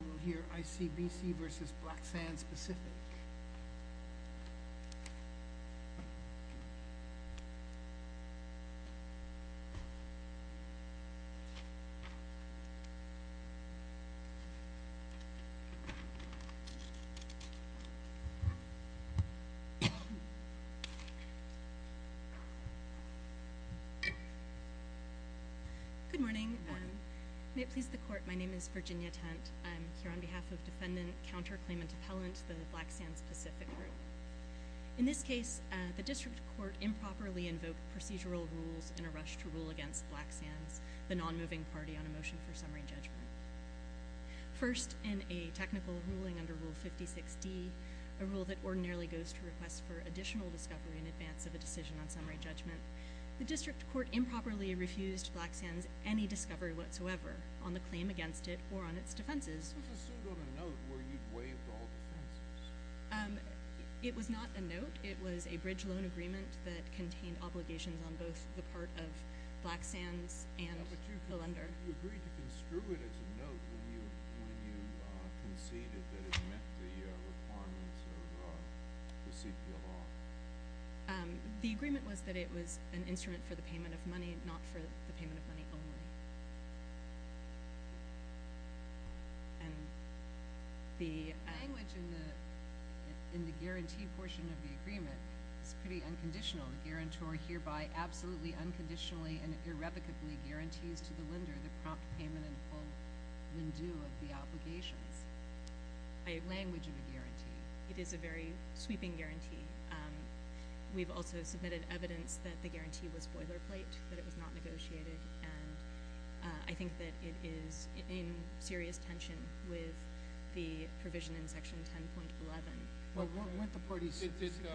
We will hear ICBC v. Blacksand specific. Good morning, may it please the court, my name is Virginia Tent, I'm here on behalf of Defendant Counter Claimant Appellant, the Blacksand specific group. In this case, the District Court improperly invoked procedural rules in a rush to rule against Blacksand, the non-moving party on a motion for summary judgment. First in a technical ruling under Rule 56D, a rule that ordinarily goes to request for additional discovery in advance of a decision on summary judgment, the District Court improperly refused Blacksand's any discovery whatsoever on the claim against it or on its defenses. It was not a note, it was a bridge loan agreement that contained obligations on both the part of Blacksand and the lender. Did you agree to construe it as a note when you conceded that it met the requirements of the CPLR? The agreement was that it was an instrument for the payment of money, not for the payment of money only. The language in the guarantee portion of the agreement is pretty unconditional. The guarantor hereby absolutely unconditionally and irrevocably guarantees to the lender the prompt payment and full rendezvous of the obligations by language of the guarantee. It is a very sweeping guarantee. We've also submitted evidence that the guarantee was boilerplate, that it was not negotiated. I think that it is in serious tension with the provision in Section 10.11. Weren't the parties sophisticated?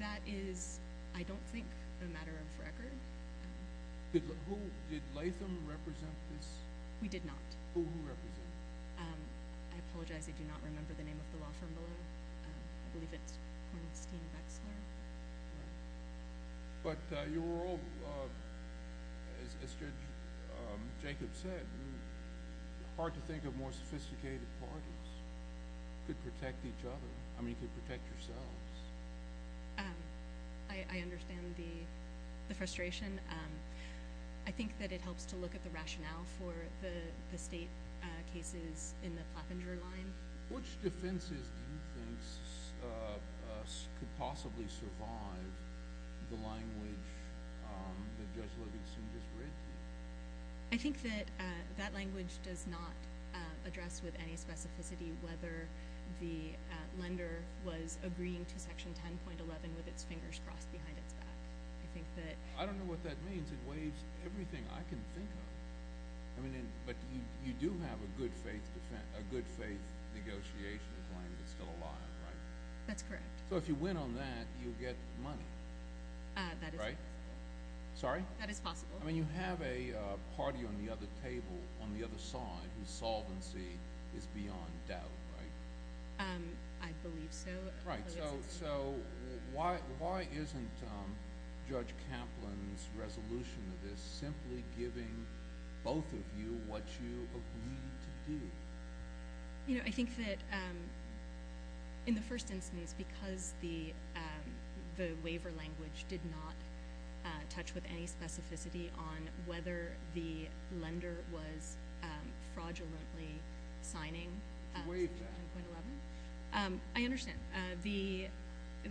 That is, I don't think, a matter of record. Did Latham represent this? We did not. Who did he represent? I apologize, I do not remember the name of the law firm below. I believe it's Hornstein-Wexler. But you were all, as Jacob said, hard to think of more sophisticated parties that could protect each other. I mean to protect yourselves. I understand the frustration. I think that it helps to look at the rationale for the state cases in the Platt-Penger line. Which defenses do you think could possibly survive the language that Judge Levinson just read to you? I think that that language does not address with any specificity whether the lender was agreeing to Section 10.11 with its fingers crossed behind its back. I think that... I don't know what that means. It weighs everything I can think of. I mean, but you do have a good faith negotiation with the language that's still alive, right? That's correct. So if you win on that, you get money. That is right. Right? Sorry? That is possible. I mean, you have a party on the other table, on the other side, whose solvency is beyond doubt, right? I believe so. Right. So why isn't Judge Kaplan's resolution to this simply giving both of you what you agreed to do? You know, I think that in the first instance, because the waiver language did not touch with any specificity on whether the lender was fraudulently signing Section 10.11. To waive that. I understand.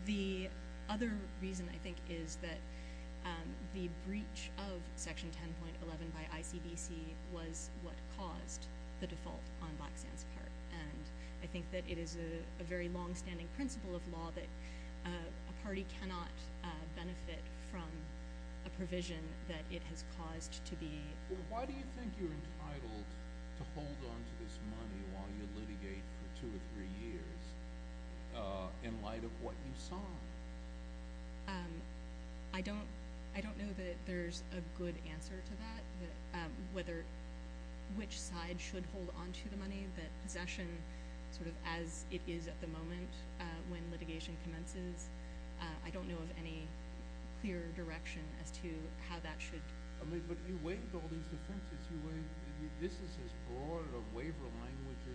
The other reason, I think, is that the breach of Section 10.11 by ICBC was what caused the default on BlackSand's part. And I think that it is a very longstanding principle of law that a party cannot benefit from a provision that it has caused to be… Well, why do you think you're entitled to hold on to this money while you litigate for two or three years in light of what you saw? I don't know that there's a good answer to that, whether which side should hold on to the money, that possession sort of as it is at the moment when litigation commences. I don't know of any clear direction as to how that should… But you waived all these defenses. This is as broad a waiver language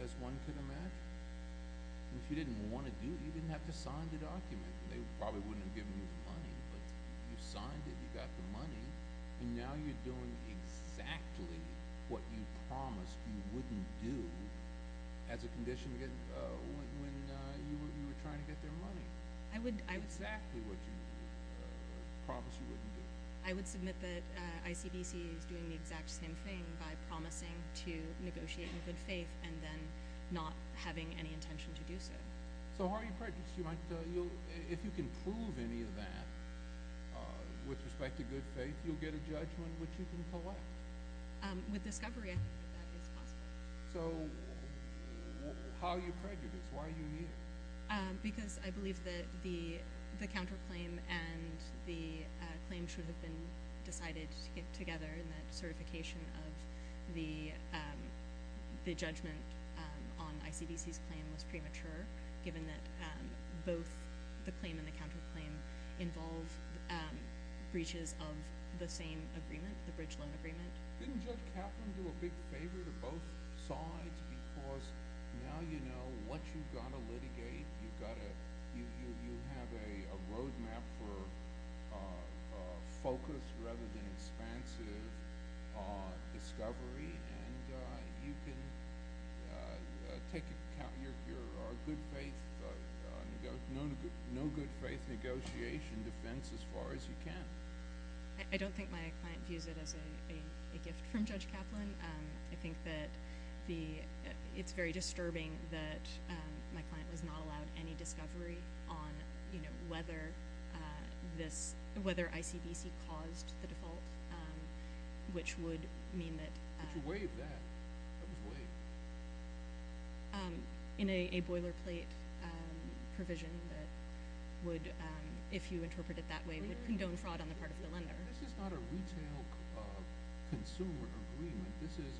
as one could imagine. If you didn't want to do it, you didn't have to sign the document. They probably wouldn't have given you the money. But you signed it, you got the money, and now you're doing exactly what you promised you wouldn't do as a condition when you were trying to get their money. Exactly what you promised you wouldn't do. I would submit that ICBC is doing the exact same thing by promising to negotiate in good faith and then not having any intention to do so. So how are you prejudiced? If you can prove any of that with respect to good faith, you'll get a judgment which you can collect. With discovery, I think that is possible. So how are you prejudiced? Why are you here? Because I believe that the counterclaim and the claim should have been decided together in that certification of the judgment on ICBC's claim was premature, given that both the claim and the counterclaim involve breaches of the same agreement, the bridge loan agreement. Didn't Judge Kaplan do a big favor to both sides? Because now you know what you've got to litigate. You have a roadmap for focus rather than expansive discovery. You can take into account your good faith, no good faith negotiation defense as far as you can. I don't think my client views it as a gift from Judge Kaplan. I think that it's very disturbing that my client was not allowed any discovery on whether ICBC caused the default, which would mean that— But you waived that. That was waived. In a boilerplate provision that would, if you interpret it that way, would condone fraud on the part of the lender. This is not a retail consumer agreement. This is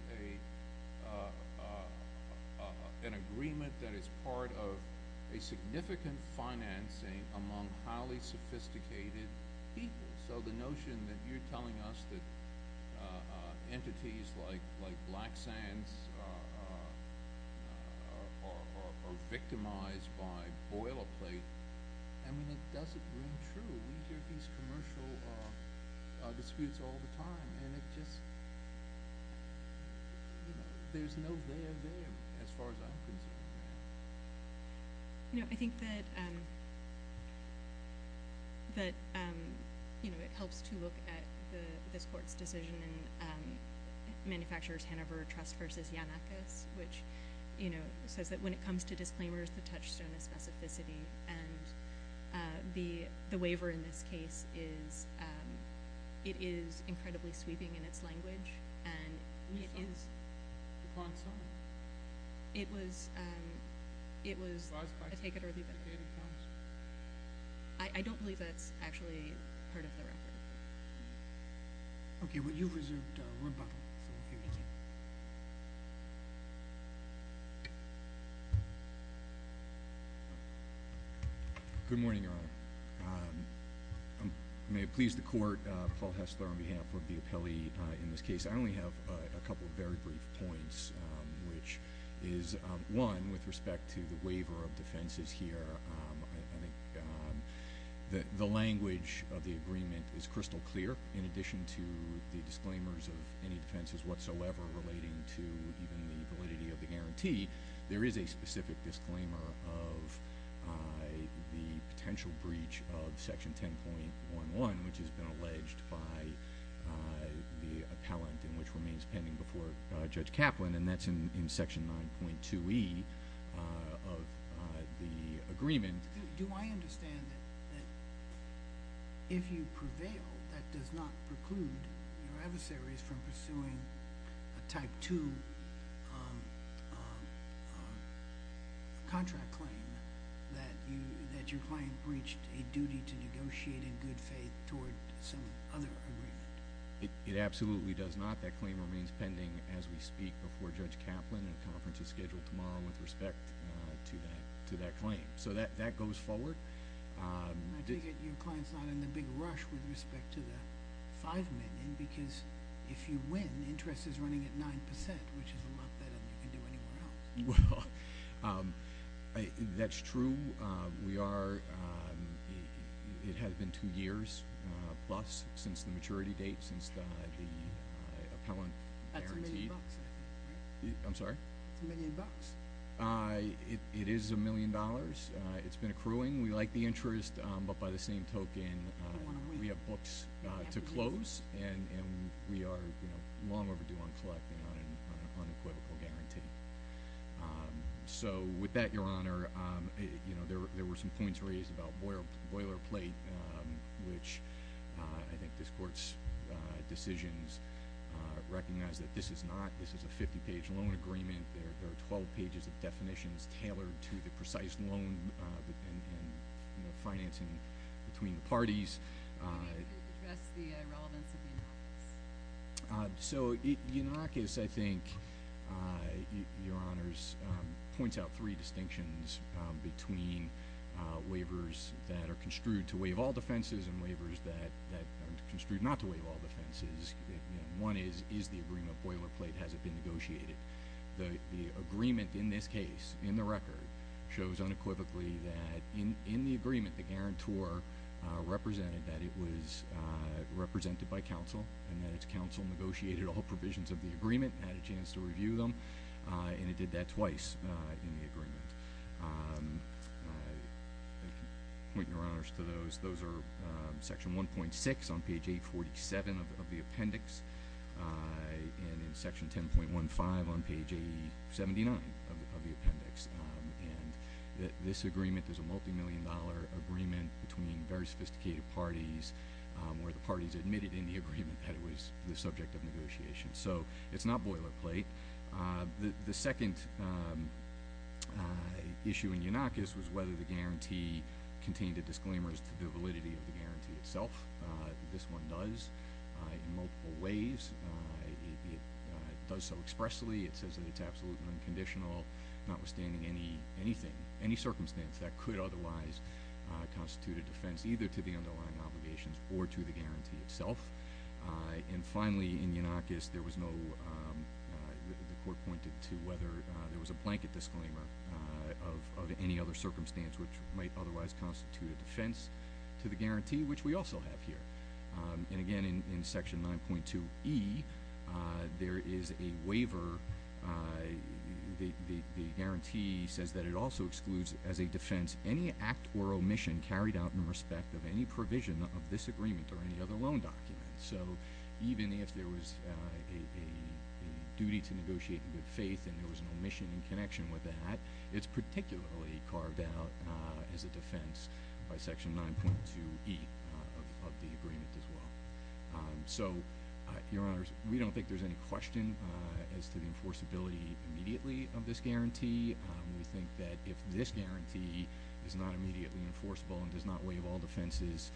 an agreement that is part of a significant financing among highly sophisticated people. So the notion that you're telling us that entities like Black Sands are victimized by boilerplate, I mean, it doesn't ring true. We hear these commercial disputes all the time. There's no there there as far as I'm concerned. I think that it helps to look at this court's decision in Manufacturers Hanover Trust v. Yanakis, which says that when it comes to disclaimers, the touchstone is specificity. And the waiver in this case is—it is incredibly sweeping in its language. And it is— Upon some. It was—I take it early. I don't believe that's actually part of the record. Okay. Well, you reserved rebuttal. So here we go. Good morning, Your Honor. May it please the Court, Paul Hessler on behalf of the appellee in this case. I only have a couple of very brief points, which is, one, with respect to the waiver of defenses here, I think the language of the agreement is crystal clear. In addition to the disclaimers of any defenses whatsoever relating to even the validity of the guarantee, there is a specific disclaimer of the potential breach of Section 10.11, which has been alleged by the appellant and which remains pending before Judge Kaplan, and that's in Section 9.2e of the agreement. Do I understand that if you prevail, that does not preclude your adversaries from pursuing a Type 2 contract claim that your client breached a duty to negotiate in good faith toward some other agreement? It absolutely does not. That claim remains pending as we speak before Judge Kaplan, and a conference is scheduled tomorrow with respect to that claim. So that goes forward. I take it your client's not in the big rush with respect to the $5 million, because if you win, interest is running at 9%, which is a lot better than you can do anywhere else. Well, that's true. It has been two years plus since the maturity date, since the appellant guaranteed. That's a million bucks. I'm sorry? That's a million bucks. It is a million dollars. It's been accruing. We like the interest, but by the same token, we have books to close, and we are long overdue on collecting on an unequivocal guarantee. So with that, Your Honor, there were some points raised about boilerplate, which I think this Court's decisions recognize that this is not. This is a 50-page loan agreement. There are 12 pages of definitions tailored to the precise loan and financing between the parties. Can you address the relevance of the anarchists? So the anarchists, I think, Your Honors, points out three distinctions between waivers that are construed to waive all defenses and waivers that are construed not to waive all defenses. One is, is the agreement boilerplate? Has it been negotiated? The agreement in this case, in the record, shows unequivocally that in the agreement, the guarantor represented that it was represented by counsel and that its counsel negotiated all provisions of the agreement and had a chance to review them, and it did that twice in the agreement. I point Your Honors to those. Those are Section 1.6 on page 847 of the appendix and in Section 10.15 on page 79 of the appendix. And this agreement is a multimillion-dollar agreement between very sophisticated parties where the parties admitted in the agreement that it was the subject of negotiation. So it's not boilerplate. The second issue in eunuchus was whether the guarantee contained the disclaimers to the validity of the guarantee itself. This one does in multiple ways. It does so expressly. It says that it's absolutely unconditional, notwithstanding anything, any circumstance that could otherwise constitute a defense either to the underlying obligations or to the guarantee itself. And finally, in eunuchus, there was no—the Court pointed to whether there was a blanket disclaimer of any other circumstance which might otherwise constitute a defense to the guarantee, which we also have here. And again, in Section 9.2e, there is a waiver. The guarantee says that it also excludes as a defense any act or omission carried out in respect of any provision of this agreement or any other loan document. So even if there was a duty to negotiate in good faith and there was an omission in connection with that, it's particularly carved out as a defense by Section 9.2e of the agreement as well. So, Your Honors, we don't think there's any question as to the enforceability immediately of this guarantee. We think that if this guarantee is not immediately enforceable and does not waive all defenses,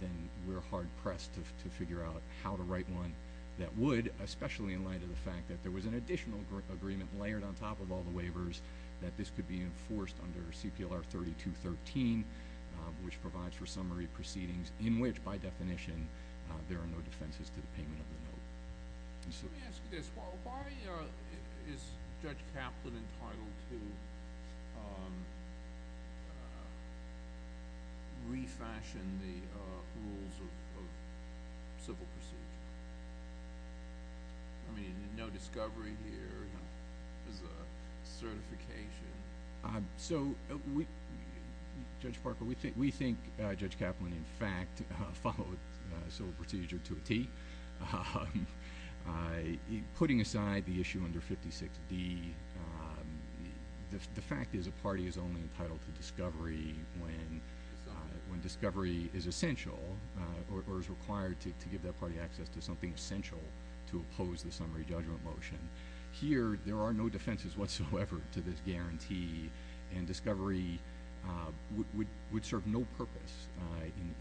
then we're hard-pressed to figure out how to write one that would, especially in light of the fact that there was an additional agreement layered on top of all the waivers that this could be enforced under CPLR 3213, which provides for summary proceedings in which, by definition, there are no defenses to the payment of the note. Let me ask you this. Why is Judge Kaplan entitled to refashion the rules of civil procedure? I mean, no discovery here. There's a certification. So, Judge Parker, we think Judge Kaplan, in fact, followed civil procedure to a T. Putting aside the issue under 56D, the fact is a party is only entitled to discovery when discovery is essential or is required to give that party access to something essential to oppose the summary judgment motion. Here, there are no defenses whatsoever to this guarantee, and discovery would serve no purpose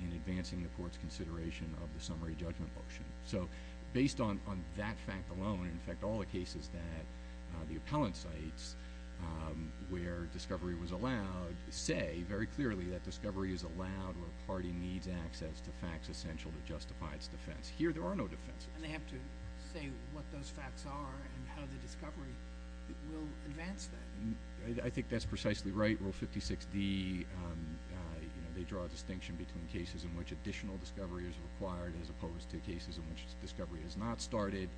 in advancing the court's consideration of the summary judgment motion. So, based on that fact alone, in fact, all the cases that the appellant cites where discovery was allowed, say very clearly that discovery is allowed where a party needs access to facts essential to justify its defense. Here, there are no defenses. And they have to say what those facts are and how the discovery will advance that. I think that's precisely right. Rule 56D, they draw a distinction between cases in which additional discovery is required as opposed to cases in which discovery is not started.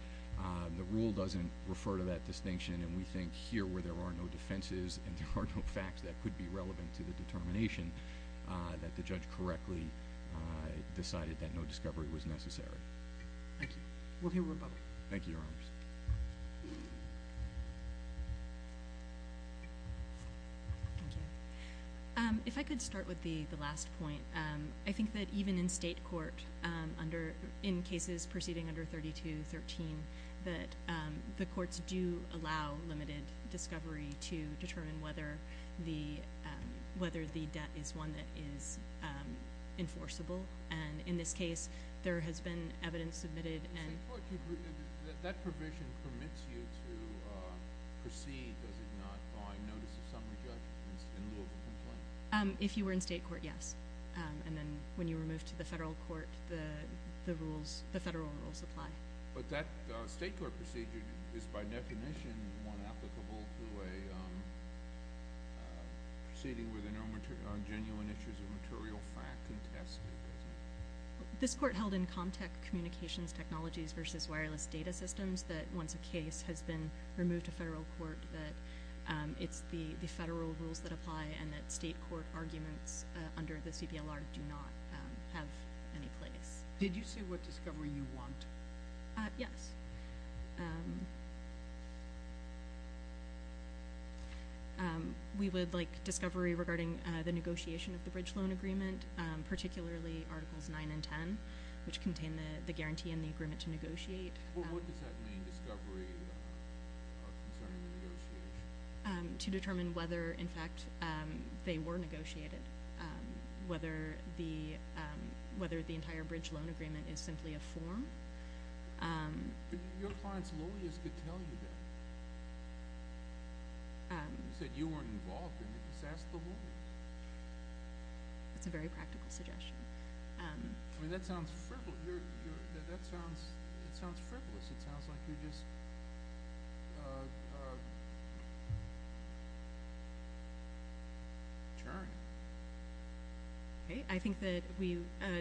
The rule doesn't refer to that distinction, and we think here where there are no defenses and there are no facts that could be relevant to the determination, that the judge correctly decided that no discovery was necessary. Thank you. We'll hear from Bob. Thank you, Your Honors. Thank you. If I could start with the last point, I think that even in state court, in cases proceeding under 3213, that the courts do allow limited discovery to determine whether the debt is one that is enforceable. And in this case, there has been evidence submitted. In state court, that provision permits you to proceed, does it not, by notice of summary judgment in lieu of a complaint? If you were in state court, yes. And then when you were moved to the federal court, the federal rules apply. But that state court procedure is, by definition, one applicable to a proceeding where there are no genuine issues of material fact contested, is it? This court held in ComTech Communications Technologies v. Wireless Data Systems that once a case has been removed to federal court that it's the federal rules that apply and that state court arguments under the CPLR do not have any place. Did you say what discovery you want? Yes. We would like discovery regarding the negotiation of the bridge loan agreement, particularly Articles 9 and 10, which contain the guarantee and the agreement to negotiate. What does that mean, discovery concerning the negotiation? To determine whether, in fact, they were negotiated, whether the entire bridge loan agreement is simply a form. Your client's lawyers could tell you that. You said you weren't involved. Did you just ask the lawyer? That's a very practical suggestion. That sounds frivolous. It sounds like you're just jarring. I think that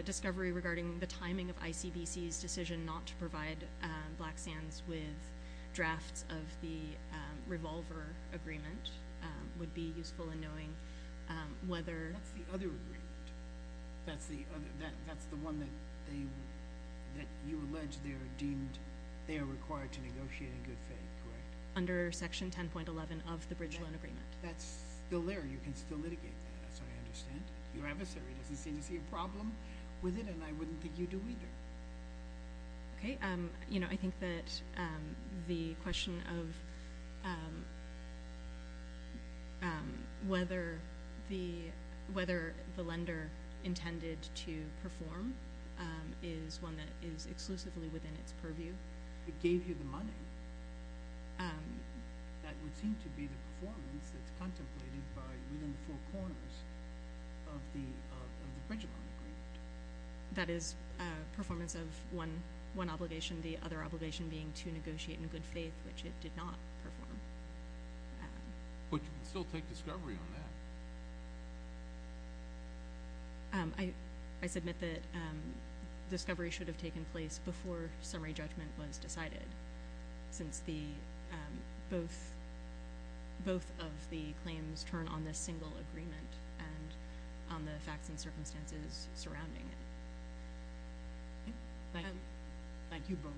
discovery regarding the timing of ICBC's decision not to provide Black Sands with drafts of the revolver agreement would be useful in knowing whether— That's the other agreement. That's the one that you allege they are deemed— they are required to negotiate in good faith, correct? Under Section 10.11 of the bridge loan agreement. That's still there. You can still litigate that. That's how I understand it. Your adversary doesn't seem to see a problem with it, and I wouldn't think you do either. I think that the question of whether the lender intended to perform is one that is exclusively within its purview. It gave you the money. That would seem to be the performance that's contemplated within the four corners of the bridge loan agreement. That is a performance of one obligation, the other obligation being to negotiate in good faith, which it did not perform. But you can still take discovery on that. I submit that discovery should have taken place before summary judgment was decided, since both of the claims turn on this single agreement and on the facts and circumstances surrounding it. Thank you. Thank you both.